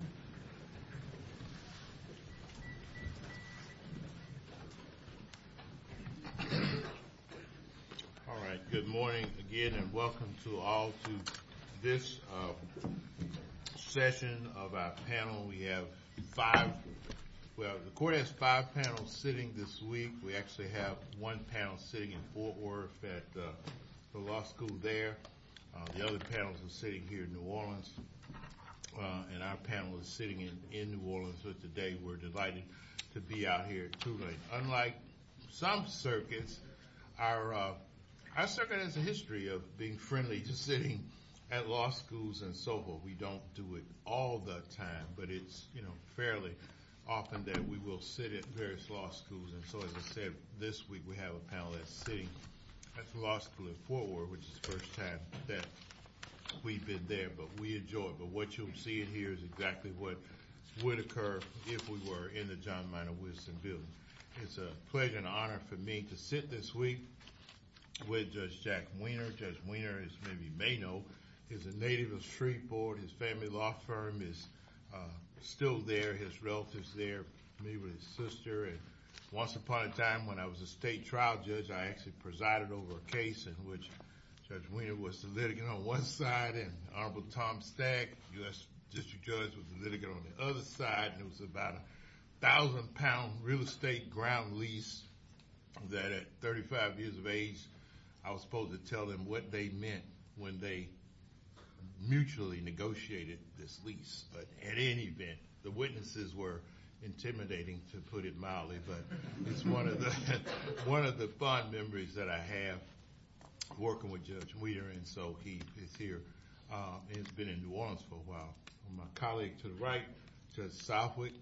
All right, good morning again and welcome to all to this session of our panel. We have five, well, the court has five panels sitting this week. We actually have one panel sitting in Fort Worth at the law school there. The other panels are sitting here in New Orleans. And our panel is sitting in New Orleans today. We're delighted to be out here too. Unlike some circuits, our circuit has a history of being friendly to sitting at law schools and so forth. We don't do it all the time, but it's fairly often that we will sit at various law schools. And so as I said, this week we have a panel that's sitting at the law school in Fort Worth, which is the first time that we've been there, but we enjoy it. But what you'll see in here is exactly what would occur if we were in the John Miner Wilson Building. It's a pleasure and honor for me to sit this week with Judge Jack Weiner. Judge Weiner, as many of you may know, is a native of Shreveport. His family law firm is still there. His relatives there, me with his sister. And once upon a time when I was a state trial judge, I actually presided over a case in which Judge Weiner was the litigant on one side, and Honorable Tom Stack, U.S. District Judge, was the litigant on the other side. And it was about a thousand pound real estate ground lease that at 35 years of age, I was supposed to tell them what they meant when they mutually negotiated this lease. But at any event, the witnesses were intimidating, to put it mildly. But it's one of the fond memories that I have working with Judge Weiner. And so he is here. He's been in New Orleans for a while. My colleague to the right, Judge Southwick,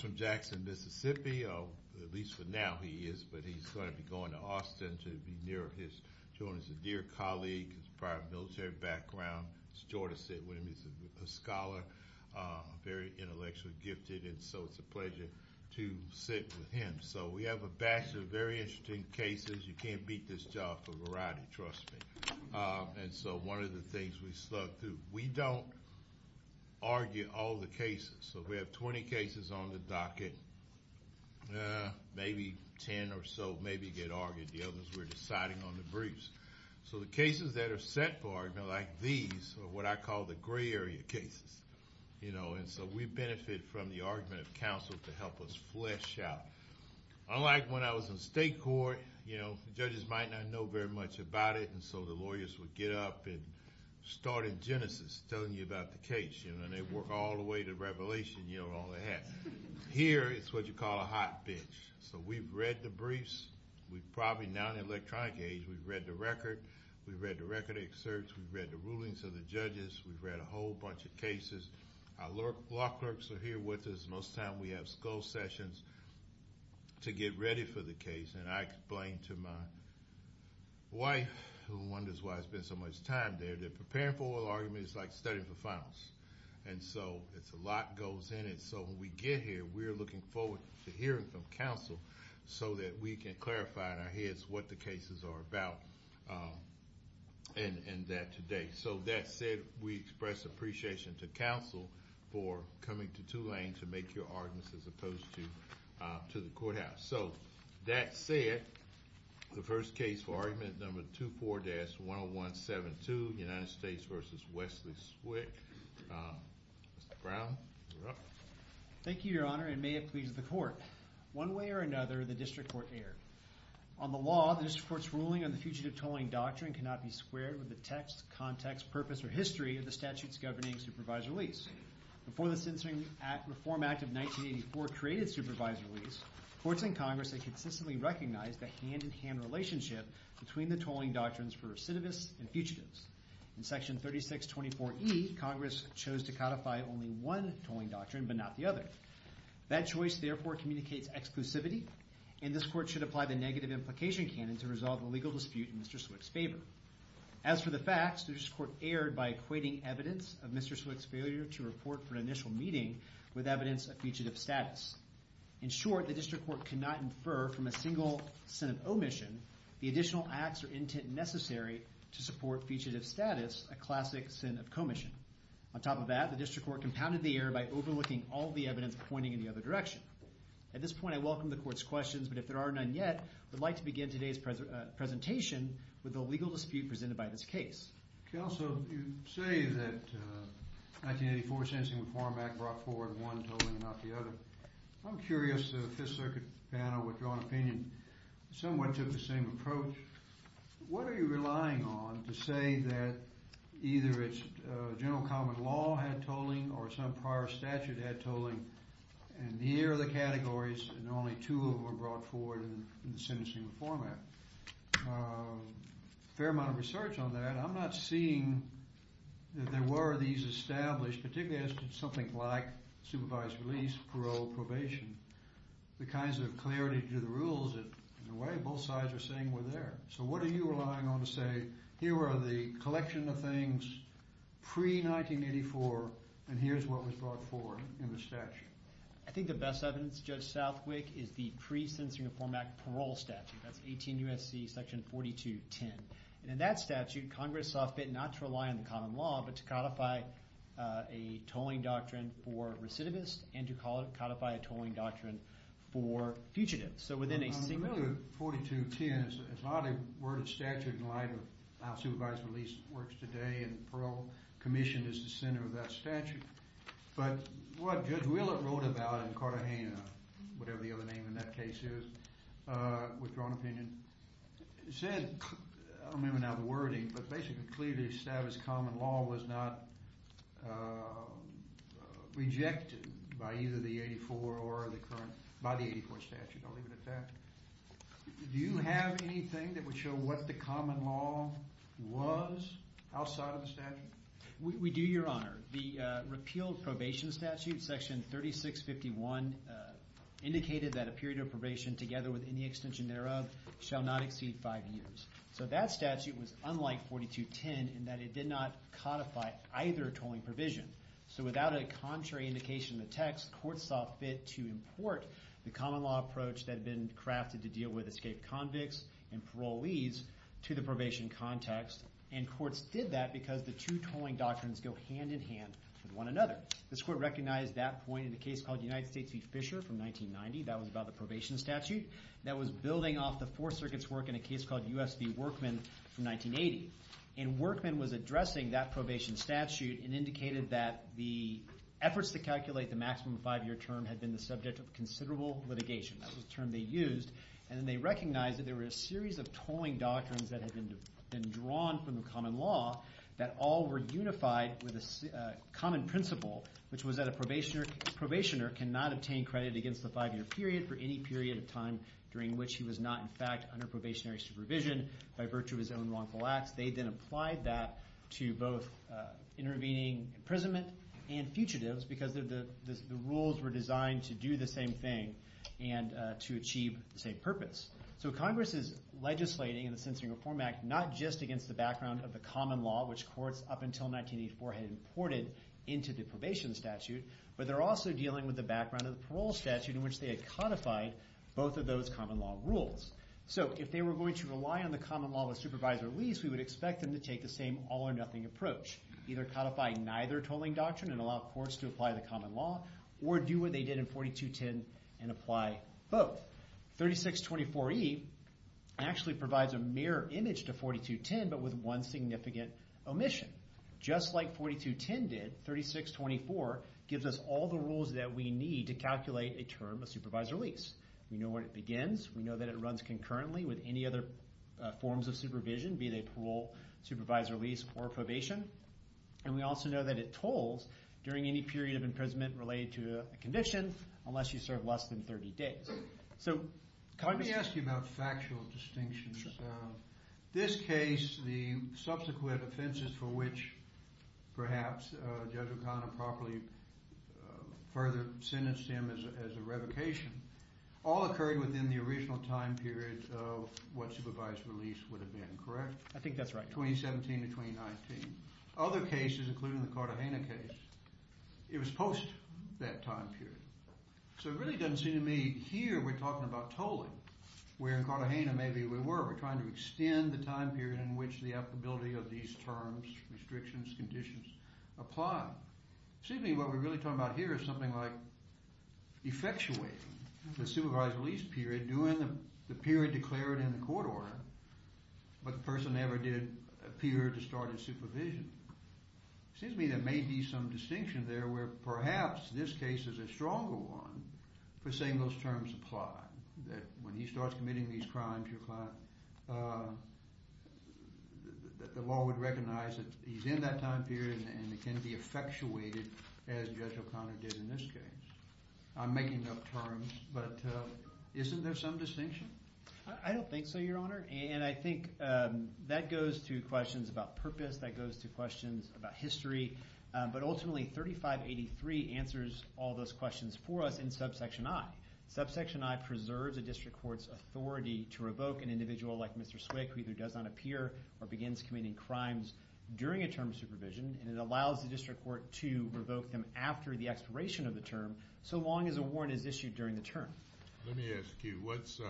from Jackson, Mississippi. At least for now he is, but he's going to be going to Austin to be near his Jonas Adair colleague, his prior military background. It's a joy to sit with him. He's a scholar, very intellectually gifted, and so it's a pleasure to sit with him. So we have a batch of very interesting cases. You can't beat this job for variety, trust me. And so one of the things we slug through, we don't argue all the cases. So we have 20 cases on the docket, maybe 10 or so maybe get argued. The others we're deciding on the briefs. So the cases that are set for argument, like these, are what I call the gray area cases. And so we benefit from the argument of counsel to help us flesh out. Unlike when I was in state court, the judges might not know very much about it. And so the lawyers would get up and start in genesis, telling you about the case. And they'd work all the way to revelation, you know, all they had. Here it's what you call a hot bitch. So we've read the briefs. We've probably, now in the rulings of the judges, we've read a whole bunch of cases. Our law clerks are here with us most of the time. We have school sessions to get ready for the case. And I explained to my wife, who wonders why there's been so much time there, that preparing for an argument is like studying for finals. And so a lot goes in it. So when we get here, we're looking forward to hearing from counsel so that we can clarify in our heads what the cases are about and that today. So that said, we express appreciation to counsel for coming to Tulane to make your arguments as opposed to the courthouse. So that said, the first case for argument number 24-10172, United States v. Wesley Swick. Mr. Brown, you're up. Thank you, your honor, and may it please the court. One way or another, the district court erred. On the law, the district court's ruling on the fugitive tolling doctrine cannot be squared with the text, context, purpose, or history of the statute's governing supervisor lease. Before the Censoring Reform Act of 1984 created supervisor lease, courts in Congress had consistently recognized the hand-in-hand relationship between the tolling doctrines for recidivists and fugitives. In section 3624E, Congress chose to codify only one tolling doctrine but not the other. That choice therefore communicates exclusivity, and this court should apply the negative implication canon to resolve the legal dispute in Mr. Swick's favor. As for the facts, the district court erred by equating evidence of Mr. Swick's failure to report for an initial meeting with evidence of fugitive status. In short, the district court could not infer from a single sin of omission the additional acts or intent necessary to support fugitive status, a looking all the evidence pointing in the other direction. At this point, I welcome the court's questions, but if there are none yet, I would like to begin today's presentation with the legal dispute presented by this case. Counsel, you say that 1984 Censoring Reform Act brought forward one tolling and not the other. I'm curious if the Fifth Circuit panel, with your own opinion, somewhat took the same approach. What are you relying on to say that either it's general common law had tolling or some prior statute had tolling, and here are the categories and only two of them were brought forward in the Censoring Reform Act? A fair amount of research on that. I'm not seeing that there were these established, particularly as to something like supervised release, parole, probation, the kinds of clarity to the rules that in a way both sides are saying were there. So what was brought forward in the statute? I think the best evidence, Judge Southwick, is the pre-Censoring Reform Act parole statute. That's 18 U.S.C. section 4210. And in that statute, Congress saw fit not to rely on the common law, but to codify a tolling doctrine for recidivists and to codify a tolling doctrine for fugitives. So within a single... 4210 is not a word of statute in light of how supervised release works today and parole commissioned as the center of that statute. But what Judge Willett wrote about in Cartagena, whatever the other name in that case is, Withdrawn Opinion, said, I don't remember now the wording, but basically clearly established common law was not rejected by either the 84 or the current, by the 84 statute. I'll leave it at that. Do you have anything that would show what the common law was outside of the statute? We do, Your Honor. The repealed probation statute, section 3651, indicated that a period of probation together with any extension thereof shall not exceed five years. So that statute was unlike 4210 in that it did not codify either tolling provision. So without a contrary indication in the text, courts saw fit to import the common law approach that had been crafted to deal with escaped convicts and parolees to the probation context. And courts did that because the two tolling doctrines go hand in hand with one another. This court recognized that point in a case called United States v. Fisher from 1990. That was about the probation statute that was building off the Fourth Circuit's work in a case called U.S. v. Workman from 1980. And Workman was addressing that probation statute and indicated that the efforts to calculate the maximum five-year term had been the subject of considerable litigation. That was the term they used. And they recognized that there were a series of tolling doctrines that had been drawn from the common law that all were unified with a common principle, which was that a probationer cannot obtain credit against the five-year period for any period of time during which he was not in fact under probationary supervision by virtue of his own wrongful acts. They then applied that to both intervening imprisonment and fugitives because the rules were designed to do the same thing and to achieve the same purpose. So Congress is legislating in the Censoring Reform Act not just against the background of the common law, which courts up until 1984 had imported into the probation statute, but they're also dealing with the background of the parole statute in which they had codified both of those common law rules. So if they were going to rely on the common law with supervisor lease, we would expect them to take the same all-or-nothing approach, either codify neither tolling doctrine and allow courts to apply the common law or do what they did in 4210 and apply both. 3624E actually provides a mirror image to 4210 but with one significant omission. Just like 4210 did, 3624 gives us all the rules that we need to calculate a term of supervisor lease. We know when it begins. We know that it runs concurrently with any other forms of supervision, be they parole, supervisor lease, or probation. And we also know that it tolls during any period of imprisonment related to a condition unless you serve less than 30 days. So Congress... Let me ask you about factual distinctions. This case, the subsequent offenses for which perhaps Judge O'Connor properly further sentenced him as a revocation, all occurred within the original time period of what supervisor lease would have been, correct? I think that's right. 2017 to 2019. Other cases, including the Cartagena case, it was post that time period. So it really doesn't seem to me here we're talking about tolling, where in Cartagena maybe we were. We're trying to extend the time period in which the applicability of these terms, restrictions, conditions apply. Seems to me what we're really talking about here is something like effectuating the supervisor lease period during the period declared in the court order, but the person never did appear to start his supervision. Seems to me there may be some distinction there where perhaps this case is a stronger one for saying those terms apply. That when he starts committing these crimes, the law would recognize that he's in that time period and it can be effectuated as Judge O'Connor did in this case. I'm making up terms, but isn't there some distinction? I don't think so, Your Honor. And I think that goes to questions about purpose, that goes to questions about history. But ultimately 3583 answers all those questions for us in subsection I. Subsection I preserves a district court's authority to revoke an individual like Mr. Swick who either does not appear or begins committing crimes during a term of supervision. And it allows the district court to revoke them after the expiration of the term, so long as a warrant is issued during the term. Let me ask you, what's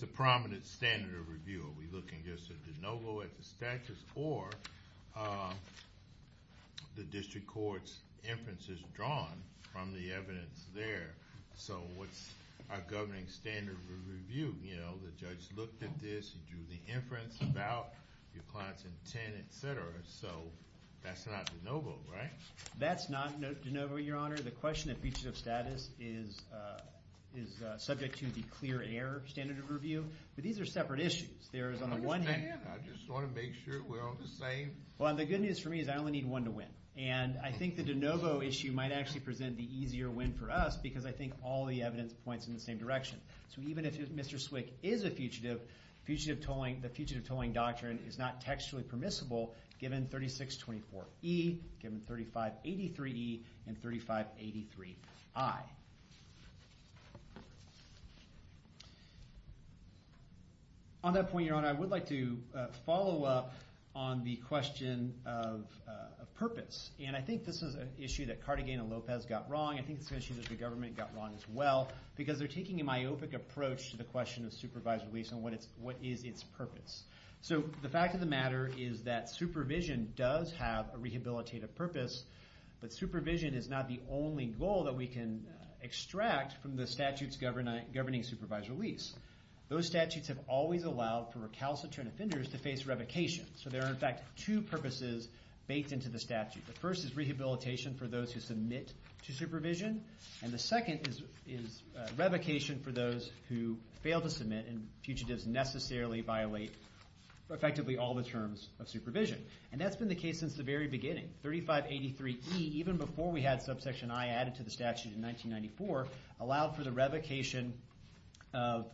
the prominent standard of review? Are we looking just at de novo at the moment? So what's our governing standard of review? You know, the judge looked at this, he drew the inference about your client's intent, etc. So that's not de novo, right? That's not de novo, Your Honor. The question that features of status is subject to the clear error standard of review. But these are separate issues. There is on the one hand... I just want to make sure we're all the same. Well, the good news for me is I only need one to win. And I think the de novo issue might actually present the easier win for us because I think all the evidence points in the same direction. So even if Mr. Swick is a fugitive, the fugitive tolling doctrine is not textually permissible given 3624E, given 3583E, and 3583I. On that point, Your Honor, I would like to follow up on the question of purpose. And I think this is an issue that Cardigan and Lopez got wrong. I think it's an issue that the government got wrong as well because they're taking a myopic approach to the question of supervised release and what is its purpose. So the fact of the matter is that supervision does have a rehabilitative purpose, but supervision is not the only goal that we can extract from the statutes governing supervised release. Those statutes have always allowed for recalcitrant offenders to face revocation. So there are, in fact, two purposes baked into the statute. The first is rehabilitation for those who submit to supervision. And the second is revocation for those who fail to submit and fugitives necessarily violate, effectively, all the terms of supervision. And that's been the case since the very beginning. 3583E, even before we had subsection I added to the statute in 1994, allowed for the revocation of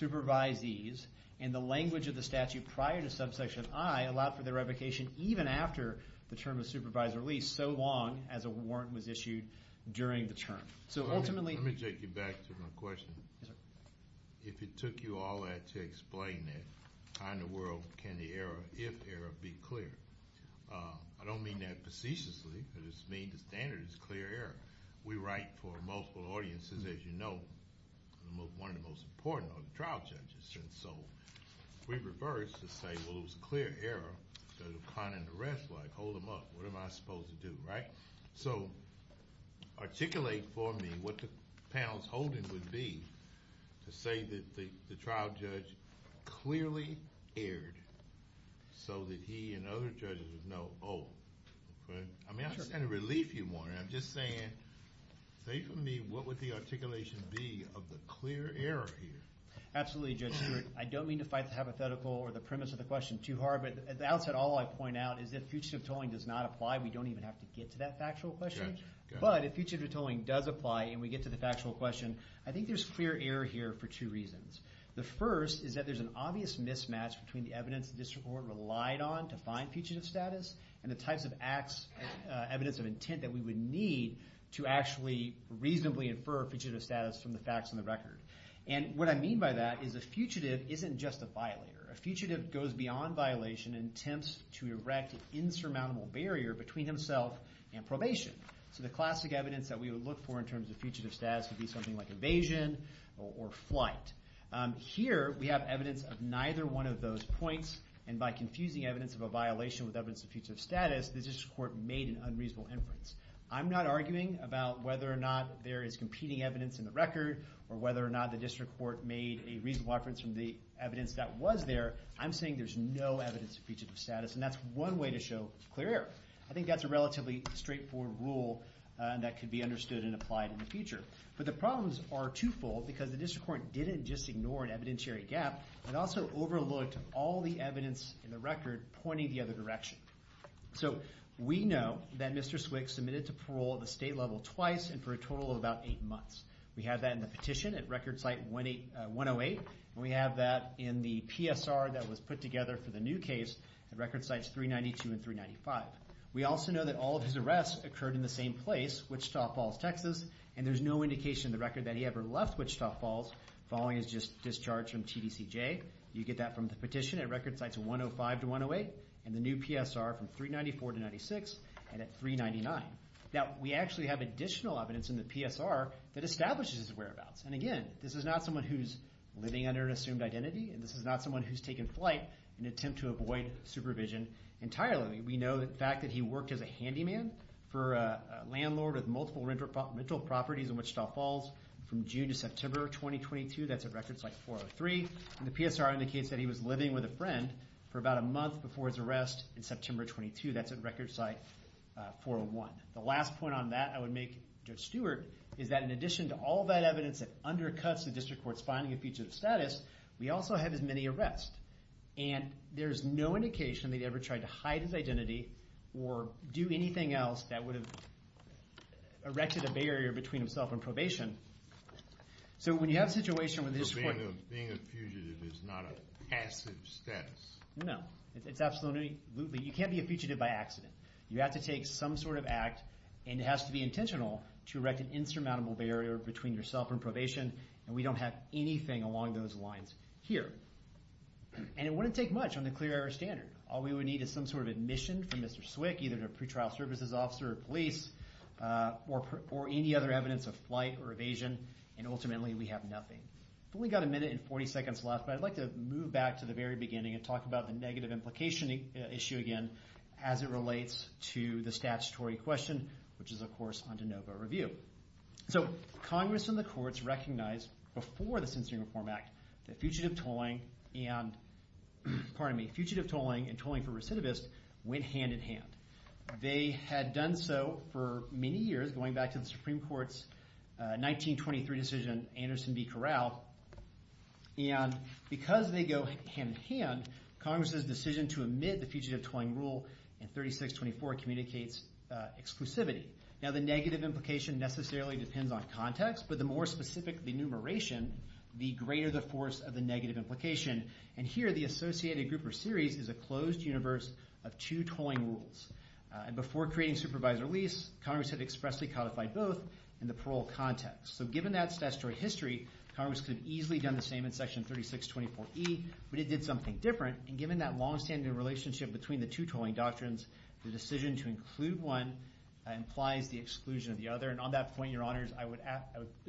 supervisees. And the language of the statute prior to subsection I allowed for the revocation even after the term of supervised release, so long as a warrant was issued during the term. So ultimately... Let me take you back to my question. If it took you all that to explain it, how in the world can the error, if error, be clear? I don't mean that facetiously. I just mean the standard is clear error. We write for multiple audiences, as you know. One of the most important are the trial judges. And so if we reverse to say, well, it was a clear error, does O'Connor and the rest hold him up? What am I supposed to do, right? So articulate for me what the panel's holding would be to say that the trial judge clearly erred so that he and other judges would know, oh, okay. I mean, I understand the relief you want. I'm just saying, say for me, what would the articulation be of the clear error here? Absolutely, Judge Stewart. I don't mean to fight the hypothetical or the premise of the question too hard. But at the outset, all I point out is that future tolling does not apply. We don't even have to get to that factual question. But if future tolling does apply and we get to the factual question, I think there's clear error here for two reasons. The first is that there's an obvious mismatch between the evidence the district court relied on to find fugitive status and the types of evidence of intent that we would need to actually reasonably infer fugitive status from the facts on the record. And what I mean by that is a fugitive isn't just a violator. A fugitive goes beyond violation and attempts to erect an insurmountable barrier between himself and probation. So the classic evidence that we would look for in terms of fugitive status would be invasion or flight. Here we have evidence of neither one of those points. And by confusing evidence of a violation with evidence of fugitive status, the district court made an unreasonable inference. I'm not arguing about whether or not there is competing evidence in the record or whether or not the district court made a reasonable inference from the evidence that was there. I'm saying there's no evidence of fugitive status. And that's one way to show clear error. I think that's a relatively straightforward rule that could be understood and applied in the future. But the problems are twofold because the district court didn't just ignore an evidentiary gap. It also overlooked all the evidence in the record pointing the other direction. So we know that Mr. Swick submitted to parole at the state level twice and for a total of about eight months. We have that in the petition at record site 108. And we have that in the PSR that was put together for the new case at record sites 392 and 395. We also know that all of his in the record that he ever left Wichita Falls following his just discharge from TDCJ. You get that from the petition at record sites 105 to 108 and the new PSR from 394 to 96 and at 399. Now we actually have additional evidence in the PSR that establishes his whereabouts. And again, this is not someone who's living under an assumed identity and this is not someone who's taken flight in an attempt to avoid supervision entirely. We know the fact that he worked as a handyman for a landlord with multiple rental properties in Wichita Falls from June to September 2022. That's at record site 403. And the PSR indicates that he was living with a friend for about a month before his arrest in September 22. That's at record site 401. The last point on that I would make, Judge Stewart, is that in addition to all that evidence that undercuts the district court's finding a fugitive status, we also have as many arrests. And there's no indication that he ever tried to hide his identity or do anything else that would have erected a barrier between himself and probation. So when you have a situation where the district court... Being a fugitive is not a passive status. No, it's absolutely. You can't be a fugitive by accident. You have to take some sort of act and it has to be intentional to erect an insurmountable barrier between yourself and probation. And we don't have anything along those lines here. And it wouldn't take much on the clear air standard. All we would need is some sort of admission from Mr. Swick, either to a pretrial services officer or police, or any other evidence of flight or evasion, and ultimately we have nothing. We've only got a minute and 40 seconds left, but I'd like to move back to the very beginning and talk about the negative implication issue again as it relates to the statutory question, which is, of course, on de novo review. So Congress and the courts recognized before the Censoring Reform Act that fugitive tolling and, pardon me, fugitive tolling and tolling for recidivist went hand in hand. They had done so for many years, going back to the Supreme Court's 1923 decision, Anderson v. Corral. And because they go hand in hand, Congress's decision to omit the fugitive tolling rule in 3624 communicates exclusivity. Now the negative implication necessarily depends on context, but the more specific the enumeration, the greater the force of the negative implication. And here, the associated group or series is a closed universe of two tolling rules. And before creating supervisory release, Congress had expressly codified both in the parole context. So given that statutory history, Congress could have easily done the same in section 3624E, but it did something different. And given that longstanding relationship between the two tolling doctrines, the decision to include one implies the exclusion of the other. And on that point, your honors, I would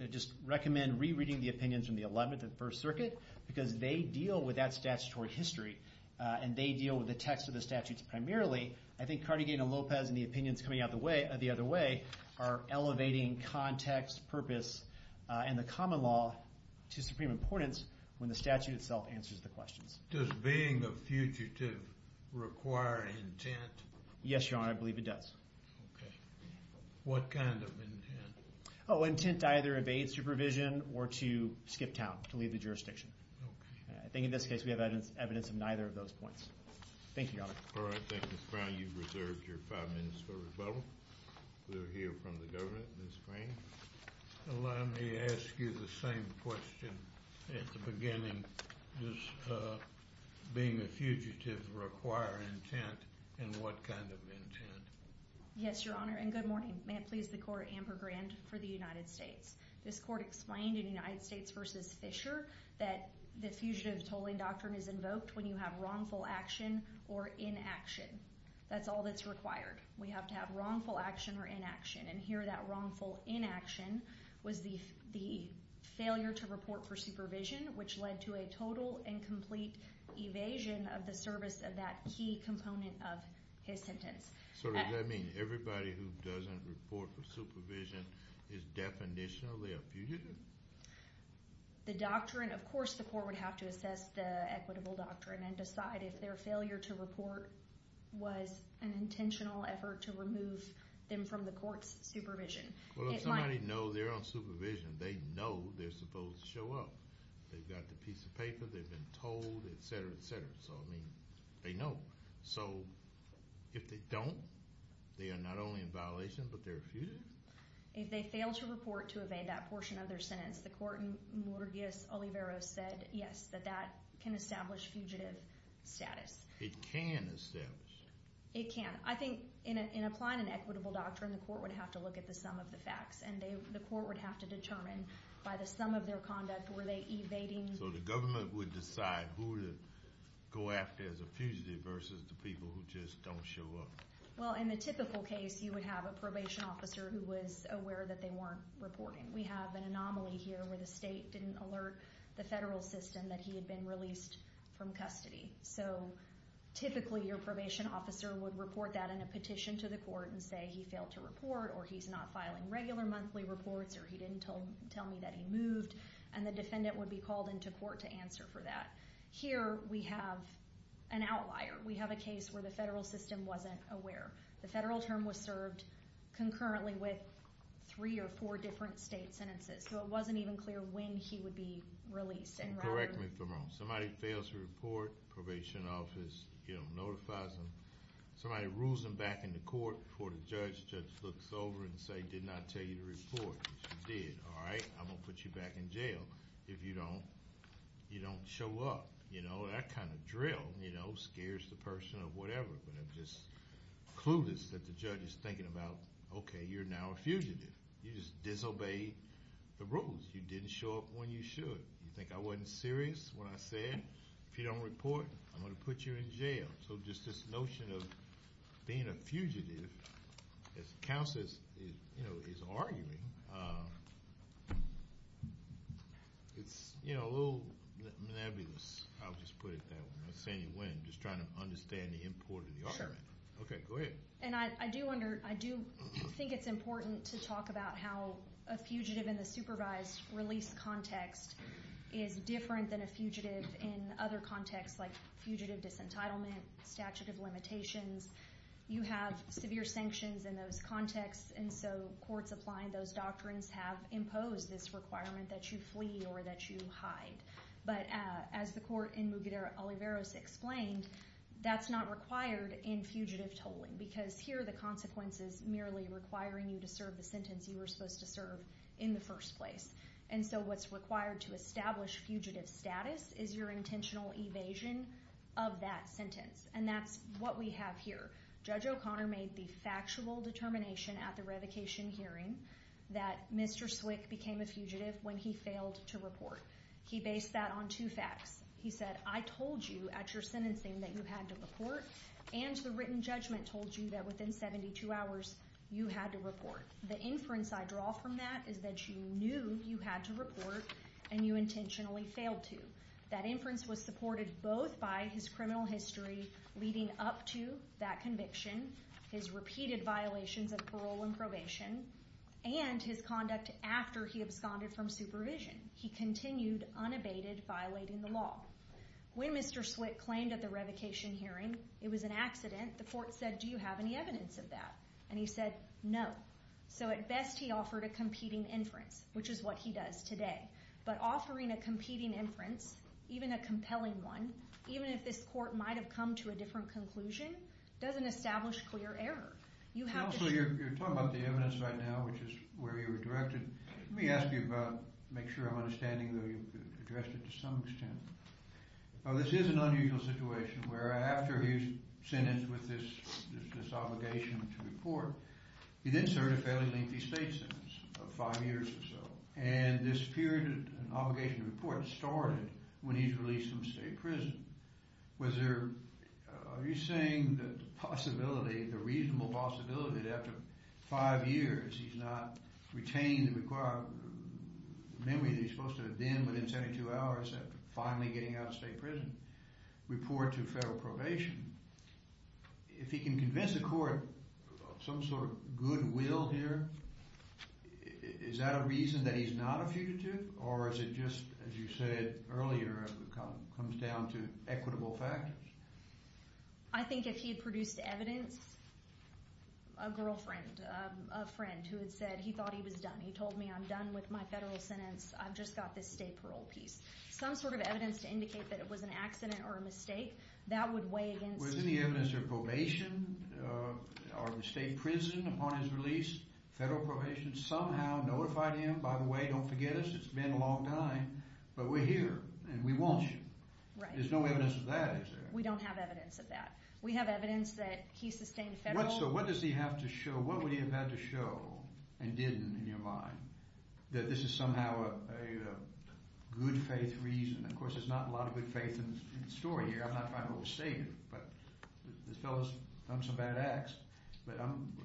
just recommend rereading the opinions from the 11th and First Circuit, because they deal with that statutory history, and they deal with the text of the statutes primarily. I think Carnegie and Lopez and the opinions coming out the other way are elevating context, purpose, and the common law to supreme importance when the statute itself answers the questions. Does being a fugitive require intent? Yes, your honor, I believe it does. What kind of intent? Oh, intent to either evade supervision or to skip town, to leave the jurisdiction. I think in this case, we have evidence of neither of those points. Thank you, your honor. All right, thank you, Mr. Brown. You've reserved your five minutes for rebuttal. We'll hear from the jury in the spring. Let me ask you the same question at the beginning. Does being a fugitive require intent, and what kind of intent? Yes, your honor, and good morning. May it please the court, Amber Grand, for the United States. This court explained in United States v. Fisher that the fugitive tolling doctrine is invoked when you have wrongful action or inaction. That's all that's required. We have to have wrongful action or inaction, and here that wrongful inaction was the failure to report for supervision, which led to a total and complete evasion of the service of that key component of his sentence. So does that mean everybody who doesn't report for supervision is definitionally a fugitive? The doctrine, of course the court would have to assess the equitable doctrine and decide if their failure to report was an intentional effort to remove them from the court's supervision. Well if somebody knows they're on supervision, they know they're supposed to show up. They've got the piece of paper, they've been told, etc. etc. So I mean, they know. So if they don't, they are not only in violation, but they're a fugitive? If they fail to report to evade that portion of their sentence, the court in established fugitive status. It can establish? It can. I think in applying an equitable doctrine, the court would have to look at the sum of the facts, and the court would have to determine by the sum of their conduct, were they evading? So the government would decide who to go after as a fugitive versus the people who just don't show up? Well in the typical case, you would have a probation officer who was aware that they weren't reporting. We have an anomaly here where the state didn't alert the federal system that he had been released from custody. So typically your probation officer would report that in a petition to the court and say he failed to report, or he's not filing regular monthly reports, or he didn't tell me that he moved, and the defendant would be called into court to answer for that. Here we have an outlier. We have a case where the federal system wasn't aware. The federal term was served concurrently with three or four different state sentences, so it wasn't even clear when he would be released. Correct me if I'm wrong. Somebody fails to report, probation office notifies them. Somebody rules them back in the court before the judge just looks over and says, did not tell you to report. If you did, all right, I'm gonna put you back in jail if you don't show up. That kind of drill scares the person or whatever, but it's just clueless that the judge is thinking about, okay, you're now a fugitive. You just disobeyed the rules. You didn't show up when you should. You think I wasn't serious when I said, if you don't report, I'm gonna put you in jail. So just this notion of being a fugitive, as counsel is arguing, it's a little nebulous. I'll just put it that way. I'm not saying you win. I'm just trying to understand the import of the argument. Okay, go ahead. And I do think it's important to talk about how a fugitive in the supervised release context is different than a fugitive in other contexts like fugitive disentitlement, statute of limitations. You have severe sanctions in those contexts, and so courts applying those doctrines have imposed this requirement that you flee or that you hide. But as the court in Muguder-Oliveros explained, that's not required in fugitive tolling, because here, the consequence is merely requiring you to serve the sentence you were supposed to serve in the first place. And so what's required to establish fugitive status is your intentional evasion of that sentence, and that's what we have here. Judge O'Connor made the factual determination at the revocation hearing that Mr. Swick became a fugitive when he failed to report. He based that on two facts. He said, I told you at your sentencing that you had to report, and the written judgment told you that within 72 hours, you had to report. The inference I draw from that is that you knew you had to report, and you intentionally failed to. That inference was supported both by his criminal history leading up to that conviction, his repeated violations of parole and probation, and his conduct after he absconded from supervision. He continued unabated, violating the law. When Mr. Swick claimed at the revocation hearing it was an accident, the court said, do you have any evidence of that? And he said, no. So at best, he offered a competing inference, which is what he does today. But offering a competing inference, even a compelling one, even if this court might have come to a different conclusion, doesn't establish clear error. You have to- You're talking about the evidence right now, which is where you were directed. Let me ask you about, make sure I'm understanding that you've addressed it to some extent. Now, this is an unusual situation, where after he's sentenced with this obligation to report, he then served a fairly lengthy state sentence of five years or so. And this period, an obligation to report, started when he's released from state prison. Was there- After five years, he's not retained the memory that he's supposed to have been within 72 hours after finally getting out of state prison, report to federal probation. If he can convince the court of some sort of goodwill here, is that a reason that he's not a fugitive? Or is it just, as you said earlier, it comes down to equitable factors? I think if he had produced evidence, a girlfriend, a friend who had said he thought he was done, he told me, I'm done with my federal sentence, I've just got this state parole piece. Some sort of evidence to indicate that it was an accident or a mistake, that would weigh against- Was any evidence of probation or state prison upon his release? Federal probation somehow notified him, by the way, don't forget us, it's been a long time, but we're here and we want you. Right. There's no evidence of that, is there? We don't have evidence of that. We have evidence that he sustained federal- So what does he have to show, what would he have had to show, and didn't in your mind, that this is somehow a good faith reason? Of course, there's not a lot of good faith in the story here, I'm not trying to overstate it, but this fellow's done some bad acts, but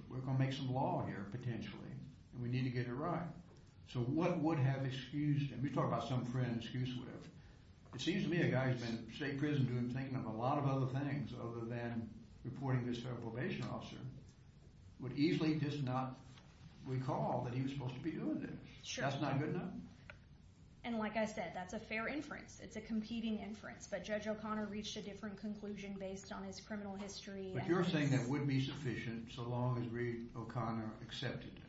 we're going to make some law here, potentially, and we need to get it right. So what would have excused him? You talk about some friend excused with, it seems to me a guy who's been in state prison doing, thinking of a lot of other things other than reporting this federal probation officer, would easily just not recall that he was supposed to be doing this. Sure. That's not good enough. And like I said, that's a fair inference, it's a competing inference, but Judge O'Connor reached a different conclusion based on his criminal history and- But you're saying that would be sufficient so long as Reed O'Connor accepted it.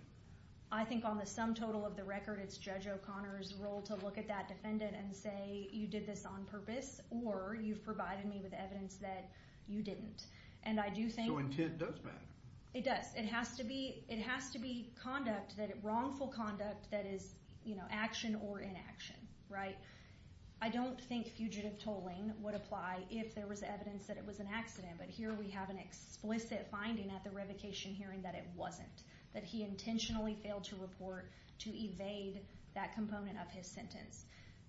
I think on the sum total of the record, it's Judge O'Connor's role to look at that defendant and say, you did this on purpose, or you've provided me with evidence that you didn't. And I do think- So intent does matter. It does. It has to be wrongful conduct that is action or inaction, right? I don't think fugitive tolling would apply if there was evidence that it was an accident, but here we have an explicit finding at the revocation hearing that it wasn't, that he intentionally failed to report to evade that component of his sentence.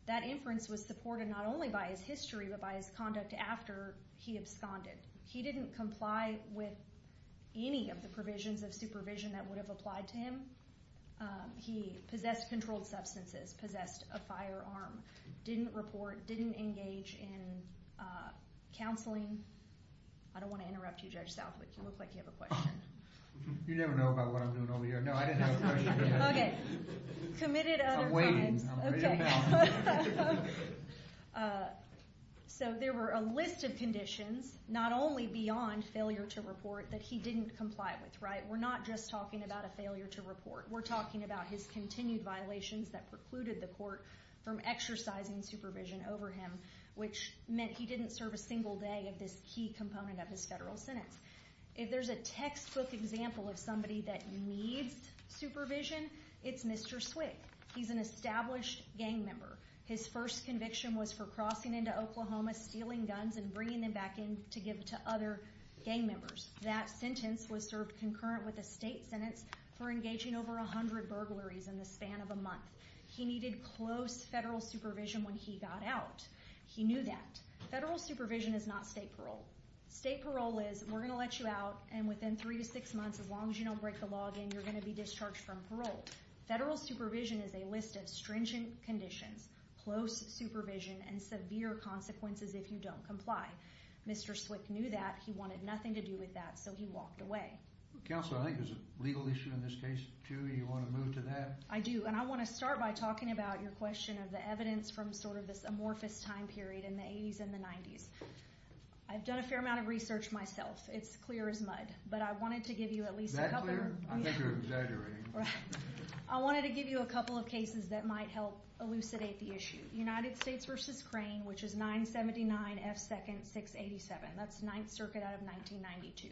That inference was supported not only by his history, but by his conduct after he absconded. He didn't comply with any of the provisions of supervision that would have applied to him. He possessed controlled substances, possessed a firearm, didn't report, didn't engage in counseling. I don't want to interrupt you, Judge Southwick. You look like you have a question. You never know about what I'm doing over here. No, I didn't have a question. Committed other crimes. I'm waiting. Okay. So there were a list of conditions, not only beyond failure to report, that he didn't comply with, right? We're not just talking about a failure to report. We're talking about his continued violations that precluded the court from exercising supervision over him, which meant he didn't serve a single day of this key component of his federal sentence. If there's a textbook example of somebody that needs supervision, it's Mr. Swick. He's an established gang member. His first conviction was for crossing into Oklahoma, stealing guns, and bringing them back in to give to other gang members. That sentence was served concurrent with a state sentence for engaging over 100 burglaries in the span of a month. He needed close federal supervision when he got out. He knew that. Federal supervision is not state parole. State parole is, we're going to let you out, and within three to six months, as long as you don't break the law again, you're going to be discharged from parole. Federal supervision is a list of stringent conditions, close supervision, and severe consequences if you don't comply. Mr. Swick knew that. He wanted nothing to do with that, so he walked away. Counselor, I think there's a legal issue in this case, too. Do you want to move to that? I do. And I want to start by talking about your question of the evidence from sort of this amorphous time period in the 80s and the 90s. I've done a fair amount of research myself. It's clear as mud. But I wanted to give you at least a couple... Is that clear? I think you're exaggerating. I wanted to give you a couple of cases that might help elucidate the issue. United States v. Crane, which is 979 F. 2nd 687. That's Ninth Circuit out of 1992.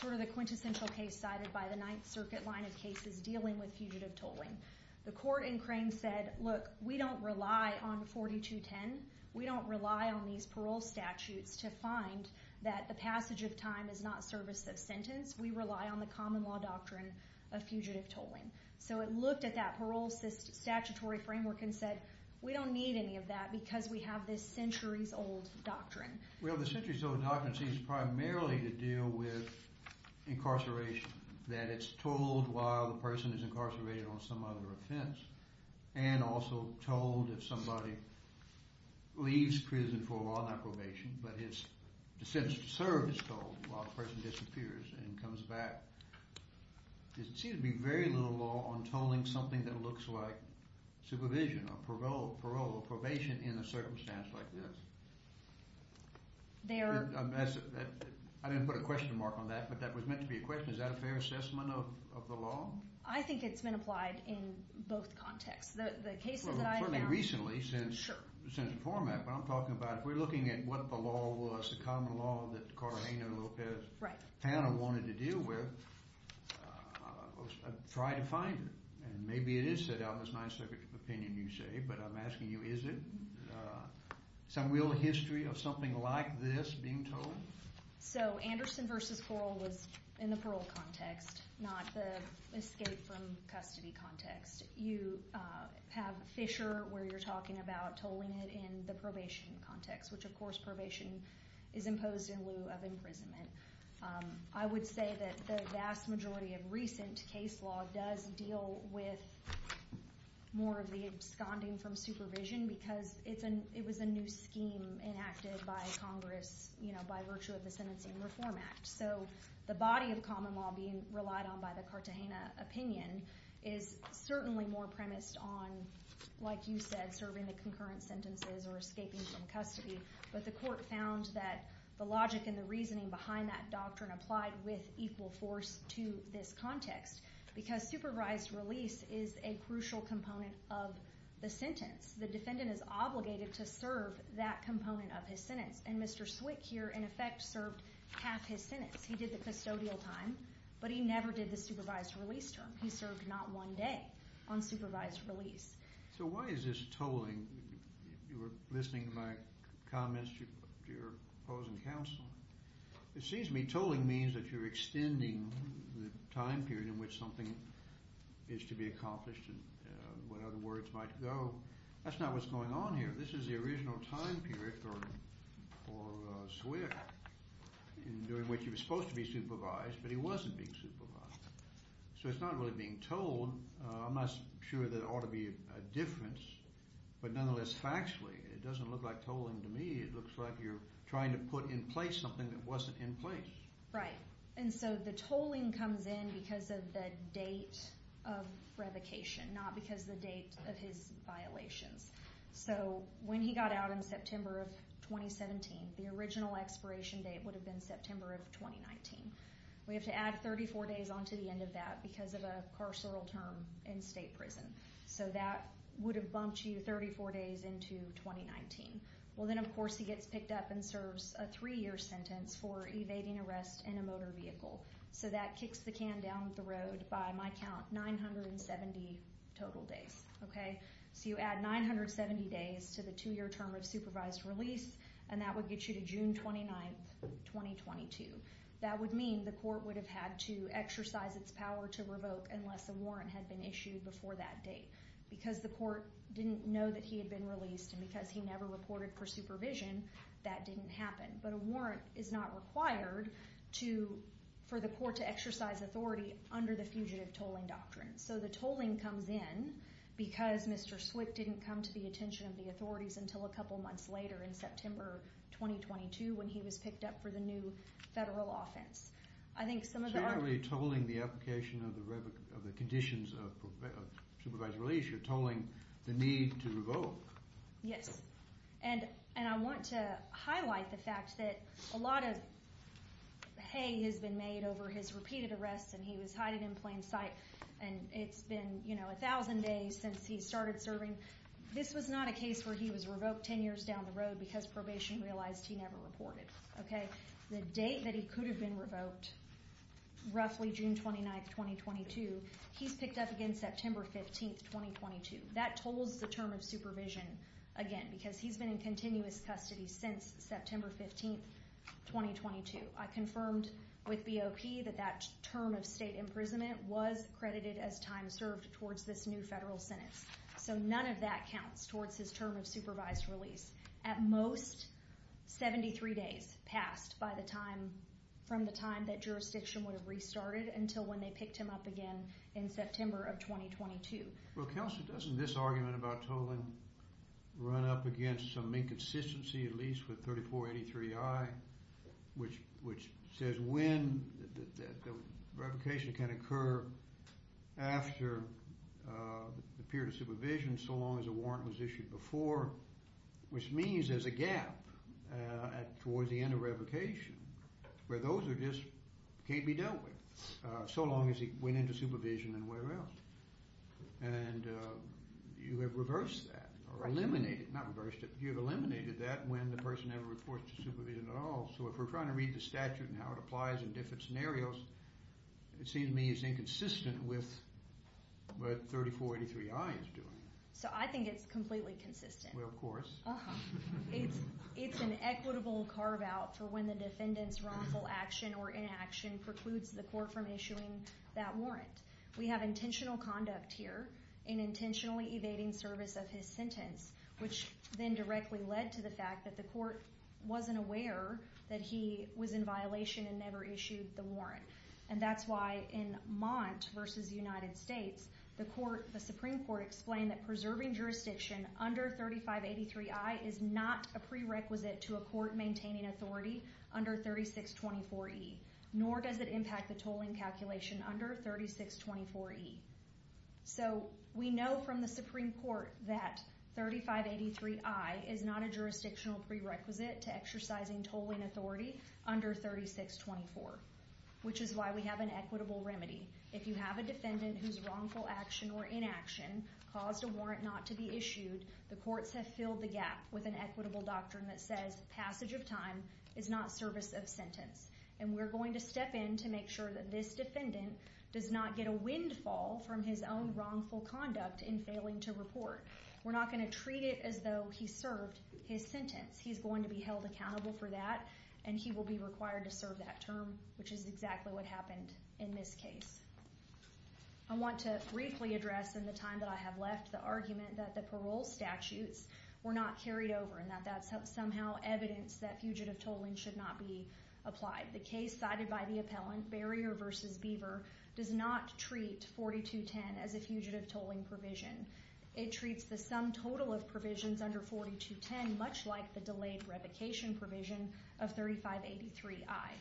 Sort of the quintessential case cited by the Ninth Circuit line of cases dealing with fugitive tolling. The court in Crane said, look, we don't rely on 4210. We don't rely on these parole statutes to find that the passage of time is not service of sentence. We rely on the common law doctrine of fugitive tolling. So it looked at that parole statutory framework and said, we don't need any of that because we have this centuries-old doctrine. Well, the centuries-old doctrine seems primarily to deal with incarceration. That it's told while the person is incarcerated on some other offense. And also told if somebody leaves prison for a while, not probation, but his sentence to serve is told while the person disappears and comes back. There seems to be very little law on tolling something that looks like supervision, or parole, or probation in a circumstance like this. I didn't put a question mark on that, but that was meant to be a question. Is that a fair assessment of the law? I think it's been applied in both contexts. The cases that I've found- Well, certainly recently since the format. But I'm talking about, if we're looking at what the law was, the common law that Carolina and Lopez- Right. Fanna wanted to deal with, try to find it. And maybe it is set out in this Ninth Circuit opinion, you say. But I'm asking you, is it? Some real history of something like this being told? So Anderson v. Coral was in the parole context, not the escape from custody context. You have Fisher, where you're talking about tolling it in the probation context. Which, of course, probation is imposed in lieu of imprisonment. I would say that the vast majority of recent case law does deal with more of the absconding from supervision, because it was a new scheme enacted by Congress by virtue of the Sentencing Reform Act. So the body of common law being relied on by the Cartagena opinion is certainly more premised on, like you said, serving the concurrent sentences or escaping from custody. But the court found that the logic and the reasoning behind that doctrine applied with equal force to this context. Because supervised release is a crucial component of the sentence. The defendant is obligated to serve that component of his sentence. And Mr. Swick here, in effect, served half his sentence. He did the custodial time, but he never did the supervised release term. He served not one day on supervised release. So why is this tolling? You were listening to my comments to your opposing counsel. It seems to me tolling means that you're extending the time period in which something is to be accomplished and when other words might go. That's not what's going on here. This is the original time period for Swick, during which he was supposed to be supervised, but he wasn't being supervised. So it's not really being tolled. I'm not sure there ought to be a difference. But nonetheless, factually, it doesn't look like tolling to me. It looks like you're trying to put in place something that wasn't in place. Right. And so the tolling comes in because of the date of revocation, not because the date of his violations. So when he got out in September of 2017, the original expiration date would have been September of 2019. We have to add 34 days onto the end of that because of a carceral term in state prison. So that would have bumped you 34 days into 2019. Well, then, of course, he gets picked up and serves a three-year sentence for evading arrest in a motor vehicle. So that kicks the can down the road by, my count, 970 total days. OK. So you add 970 days to the two-year term of supervised release, and that would get you to June 29, 2022. That would mean the court would have had to exercise its power to revoke unless a warrant had been issued before that date. Because the court didn't know that he had been released, and because he never reported for supervision, that didn't happen. But a warrant is not required for the court to exercise authority under the fugitive tolling doctrine. So the tolling comes in because Mr. Swick didn't come to the attention of the authorities until a couple months later, in September 2022, when he was picked up for the new federal offense. I think some of the arguments— So you're not really tolling the application of the conditions of supervised release. You're tolling the need to revoke. Yes. And I want to highlight the fact that a lot of hay has been made over his repeated arrests, and he was hiding in plain sight. And it's been 1,000 days since he started serving. This was not a case where he was revoked 10 years down the road because probation realized he never reported. The date that he could have been revoked, roughly June 29, 2022, he's picked up again September 15, 2022. That tolls the term of supervision again, because he's been in continuous custody since September 15, 2022. I confirmed with BOP that that term of state imprisonment was credited as time served towards this new federal sentence. So none of that counts towards his term of supervised release. At most, 73 days passed by the time—from the time that jurisdiction would have restarted until when they picked him up again in September of 2022. Well, Counselor, doesn't this argument about tolling run up against some inconsistency, at least with 3483I, which says when the revocation can occur after the period of supervision, so long as a warrant was issued before, which means there's a gap towards the end of revocation, where those are just—can't be dealt with, so long as he went into supervision and where else. And you have reversed that or eliminated—not reversed it. You've eliminated that when the person never reports to supervision at all. So if we're trying to read the statute and how it applies in different scenarios, it seems to me it's inconsistent with what 3483I is doing. So I think it's completely consistent. Well, of course. It's an equitable carve-out for when the defendant's wrongful action or inaction precludes the court from issuing that warrant. We have intentional conduct here in intentionally evading service of his sentence, which then directly led to the fact that the court wasn't aware that he was in violation and never issued the warrant. And that's why in Mont v. United States, the Supreme Court explained that preserving jurisdiction under 3583I is not a prerequisite to a court maintaining authority under 3624E, nor does it impact the tolling calculation under 3624E. So we know from the Supreme Court that 3583I is not a jurisdictional prerequisite to exercising tolling authority under 3624, which is why we have an equitable remedy. If you have a defendant whose wrongful action or inaction caused a warrant not to be issued, the courts have filled the gap with an equitable doctrine that says passage of time is not service of sentence. And we're going to step in to make sure that this defendant does not get a windfall from his own wrongful conduct in failing to report. We're not going to treat it as though he served his sentence. He's going to be held accountable for that, and he will be required to serve that term, which is exactly what happened in this case. I want to briefly address in the time that I have left the argument that the parole statutes were not carried over and that that's somehow evidence that fugitive tolling should not be applied. The case cited by the appellant, Barrier v. Beaver, does not treat 4210 as a fugitive tolling provision. It treats the sum total of provisions under 4210 much like the delayed revocation provision of 3583I.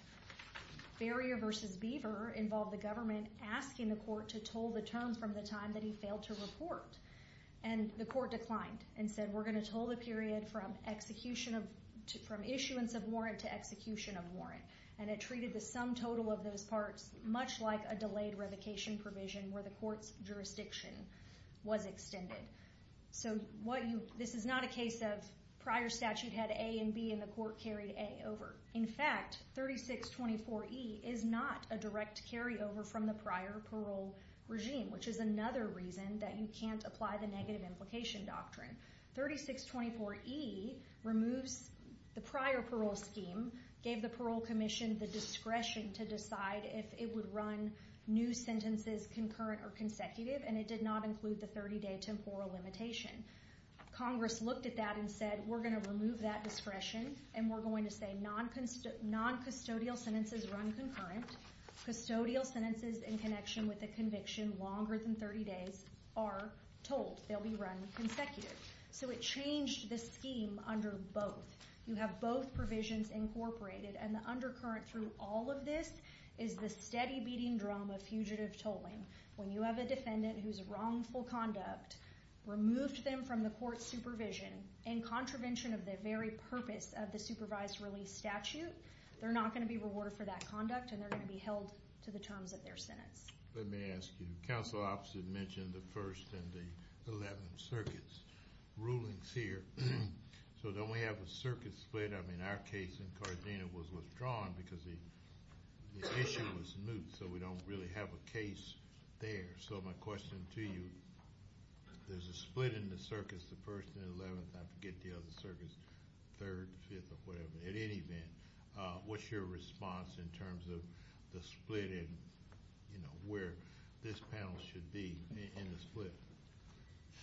Barrier v. Beaver involved the government asking the court to toll the terms from the time that he failed to report. And the court declined and said, we're going to toll the period from issuance of warrant to execution of warrant. And it treated the sum total of those parts much like a delayed revocation provision where the court's jurisdiction was extended. So this is not a case of prior statute had A and B and the court carried A over. In fact, 3624E is not a direct carryover from the prior parole regime, which is another reason that you can't apply the negative implication doctrine. 3624E removes the prior parole scheme, gave the parole commission the discretion to decide if it would run new sentences concurrent or consecutive, and it did not include the 30 day temporal limitation. Congress looked at that and said, we're going to remove that discretion. And we're going to say non-custodial sentences run concurrent. Custodial sentences in connection with a conviction longer than 30 days are tolled. They'll be run consecutive. So it changed the scheme under both. You have both provisions incorporated. And the undercurrent through all of this is the steady beating drum of fugitive tolling. When you have a defendant who's wrongful conduct, removed them from the court supervision, in contravention of the very purpose of the supervised release statute, they're not going to be rewarded for that conduct. And they're going to be held to the terms of their sentence. Let me ask you. Counsel opposite mentioned the 1st and the 11th circuits rulings here. So don't we have a circuit split? I mean, our case in Cardena was withdrawn because the issue was moot. So we don't really have a case there. So my question to you, there's a split in the circuits, the 1st and 11th. I forget the other circuits, 3rd, 5th, or whatever. At any event, what's your response in terms of the split in, where this panel should be in the split?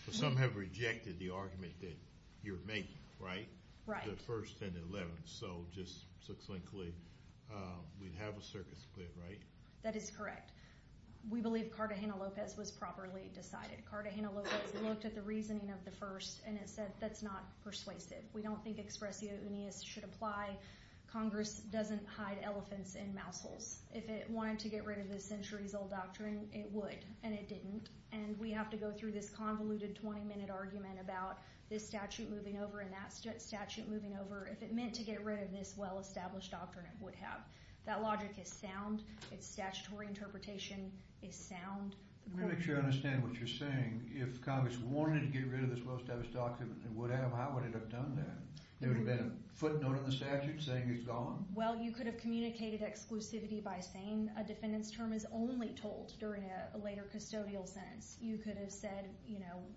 But some have rejected the argument that you're making, right? Right. The 1st and the 11th. So just succinctly, we'd have a circuit split, right? That is correct. We believe Cartagena-Lopez was properly decided. Cartagena-Lopez looked at the reasoning of the 1st, and it said that's not persuasive. We don't think expressio uneus should apply. Congress doesn't hide elephants in mouse holes. If it wanted to get rid of this centuries-old doctrine, it would, and it didn't. And we have to go through this convoluted 20-minute argument about this statute moving over and that statute moving over. If it meant to get rid of this well-established doctrine, it would have. That logic is sound. Its statutory interpretation is sound. Let me make sure I understand what you're saying. If Congress wanted to get rid of this well-established doctrine, it would have, how would it have done that? There would have been a footnote in the statute saying it's gone. Well, you could have communicated exclusivity by saying a defendant's term is only told during a later custodial sentence. You could have said,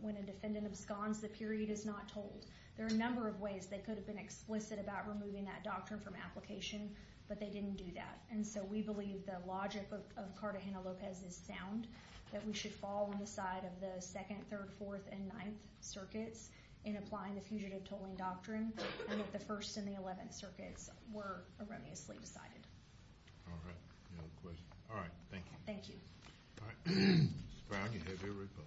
when a defendant absconds, the period is not told. There are a number of ways they could have been explicit about removing that doctrine from application, but they didn't do that. And so we believe the logic of Cartagena-Lopez is sound, that we should fall on the side of the 2nd, 3rd, 4th, and 9th circuits in applying the fugitive tolling doctrine, and that the 1st and the 11th circuits were erroneously decided. All right. Any other questions? All right. Thank you. Thank you. All right. Mr. Brown, you have your report.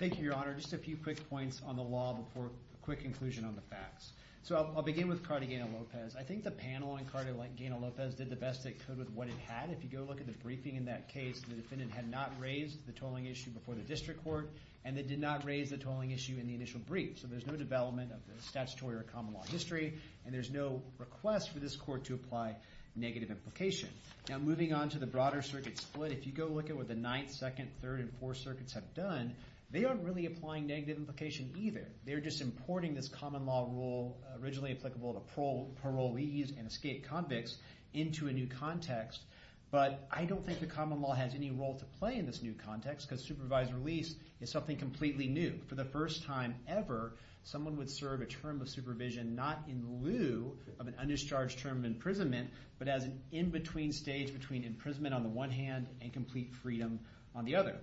Thank you, Your Honor. Just a few quick points on the law before a quick conclusion on the facts. So I'll begin with Cartagena-Lopez. I think the panel on Cartagena-Lopez did the best they could with what it had. If you go look at the briefing in that case, the defendant had not raised the tolling issue before the district court, and they did not raise the tolling issue in the initial brief. So there's no development of the statutory or common law history, and there's no request for this court to apply negative implication. Now, moving on to the broader circuit split, if you go look at what the 9th, 2nd, 3rd, and 4th circuits have done, they aren't really applying negative implication either. They're just importing this common law rule, originally applicable to parolees and escaped convicts, into a new context. But I don't think the common law has any role to play in this new context, because supervised release is something completely new. For the first time ever, someone would serve a term of supervision not in lieu of an undercharged term of imprisonment, but as an in-between stage between imprisonment on the one hand and complete freedom on the other.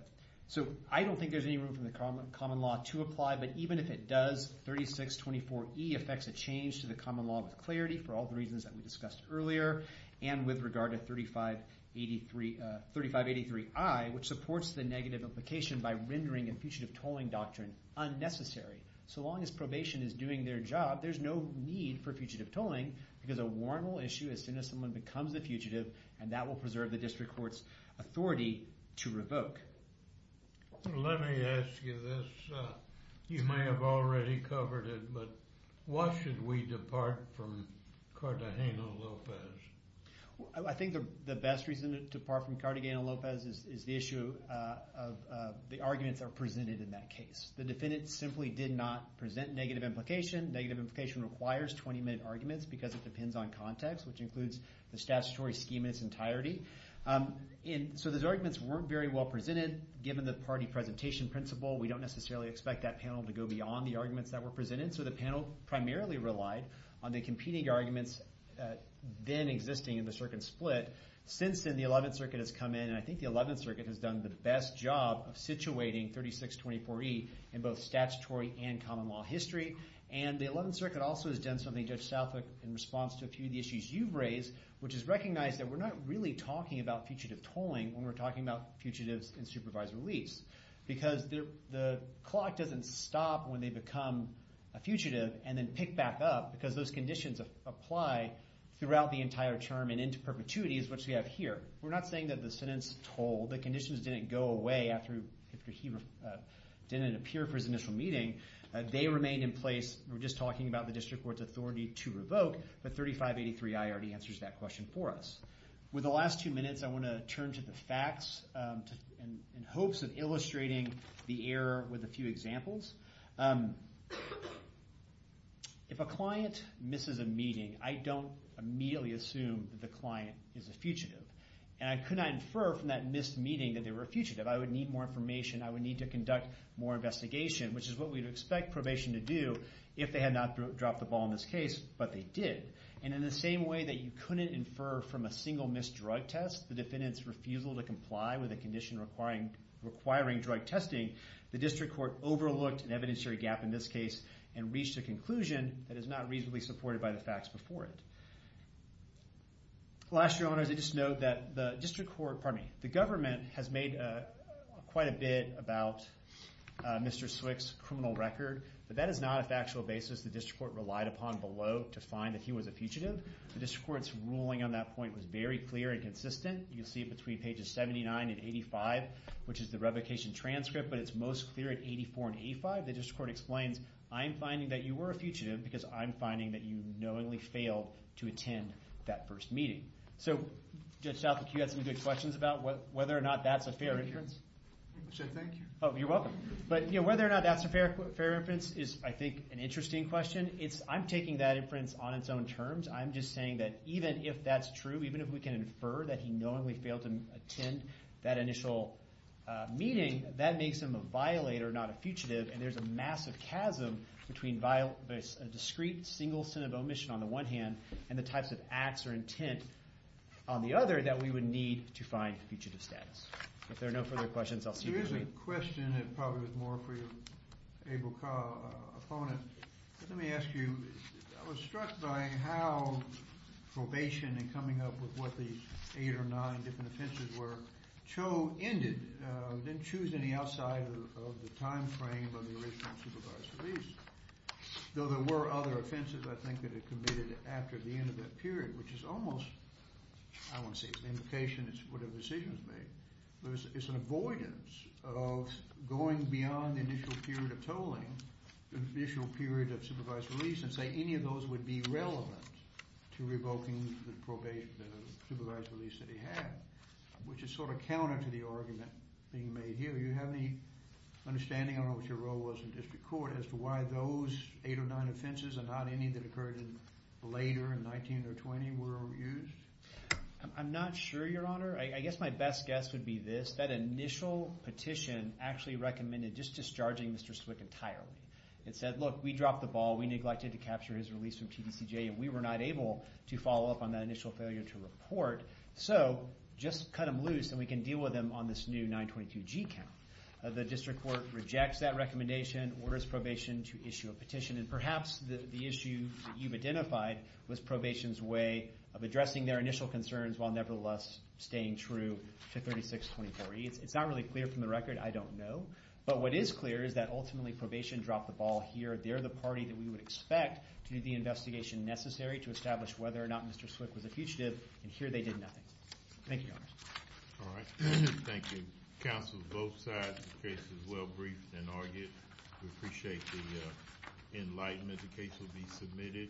So I don't think there's any room for the common law to apply. But even if it does, 3624E affects a change to the common law with clarity, for all the reasons that we discussed earlier, and with regard to 3583I, which supports the negative implication by rendering a fugitive tolling doctrine unnecessary. So long as probation is doing their job, there's no need for fugitive tolling, because a warrant will issue as soon as someone becomes a fugitive, and that will preserve the district court's authority to revoke. Let me ask you this. You may have already covered it, but why should we depart from Cartagena-Lopez? I think the best reason to depart from Cartagena-Lopez is the issue of the arguments that are presented in that case. The defendant simply did not present negative implication. Negative implication requires 20-minute arguments, because it depends on context, which includes the statutory scheme in its entirety. So those arguments weren't very well presented. Given the party presentation principle, we don't necessarily expect that panel to go beyond the arguments that were presented. So the panel primarily relied on the competing arguments then existing in the circuit split. Since then, the 11th Circuit has come in, and I think the 11th Circuit has done the best job of situating 3624E in both statutory and common law history. And the 11th Circuit also has done something, Judge Southwick, in response to a few of the issues you've raised, which is recognize that we're not really talking about fugitive tolling when we're talking about fugitives in supervised release, because the clock doesn't stop when they become a fugitive and then pick back up, because those conditions apply throughout the entire term and into perpetuity, as much as we have here. We're not saying that the sentence toll, the conditions didn't go away after he didn't appear for his initial meeting. They remain in place. We're just talking about the district court's authority to revoke, but 3583I already answers that question for us. With the last two minutes, I want to turn to the facts in hopes of illustrating the error with a few examples. If a client misses a meeting, I don't immediately assume that the client is a fugitive. And I could not infer from that missed meeting that they were a fugitive. I would need more information. I would need to conduct more investigation, which is what we'd expect probation to do if they had not dropped the ball in this case, but they did. And in the same way that you couldn't infer from a single missed drug test the defendant's refusal to comply with a condition requiring drug testing, the district court overlooked an evidentiary gap in this case and reached a conclusion that is not reasonably supported by the facts before it. Last, your honors, I just note that the district court, pardon me, the government has made quite a bit about Mr. Swick's criminal record, but that is not a factual basis the district court relied upon below to find that he was a fugitive. The district court's ruling on that point was very clear and consistent. You can see it between pages 79 and 85, which is the revocation transcript, but it's most clear at 84 and 85. The district court explains, I'm finding that you were a fugitive because I'm finding that you knowingly failed to attend that first meeting. So Judge Southwick, you had some good questions about whether or not that's a fair inference? I should thank you. Oh, you're welcome. But whether or not that's a fair inference is, I think, an interesting question. I'm taking that inference on its own terms. I'm just saying that even if that's true, even if we can infer that he knowingly failed to attend that initial meeting, that makes him a violator, not a fugitive, and there's a massive chasm between a discrete single-sinner omission on the one hand, and the types of acts or intent on the other that we would need to find fugitive status. If there are no further questions, I'll see you at the meeting. There is a question that probably was more for your able opponent. Let me ask you, I was struck by how probation and coming up with what the eight or nine different offenses were, Cho ended, didn't choose any outside of the time frame of the original supervised release, though there were other offenses, I think, that he committed after the end of that period, which is almost, I don't want to say it's an indication, it's whatever decision was made, but it's an avoidance of going beyond the initial period of tolling, the initial period of supervised release, and say any of those would be relevant to revoking the probation, the supervised release that he had, which is sort of counter to the argument being made here. Do you have any understanding on what your role was in district court as to why those eight or nine offenses, and not any that occurred later in 19 or 20, were used? I'm not sure, Your Honor. I guess my best guess would be this, that initial petition actually recommended just discharging Mr. Stwick entirely. It said, look, we dropped the ball, we neglected to capture his release from TDCJ, and we were not able to follow up on that initial failure to report. So just cut them loose, and we can deal with them on this new 922G count. The district court rejects that recommendation, orders probation to issue a petition, and perhaps the issue that you've identified was probation's way of addressing their initial concerns while nevertheless staying true to 362040. It's not really clear from the record, I don't know, but what is clear is that ultimately, probation dropped the ball here. They're the party that we would expect to do the investigation necessary to establish whether or not Mr. Stwick was a fugitive, and here they did nothing. Thank you, Your Honor. All right, thank you. Counsel's both sides, the case is well briefed and argued. We appreciate the enlightenment. The case will be submitted.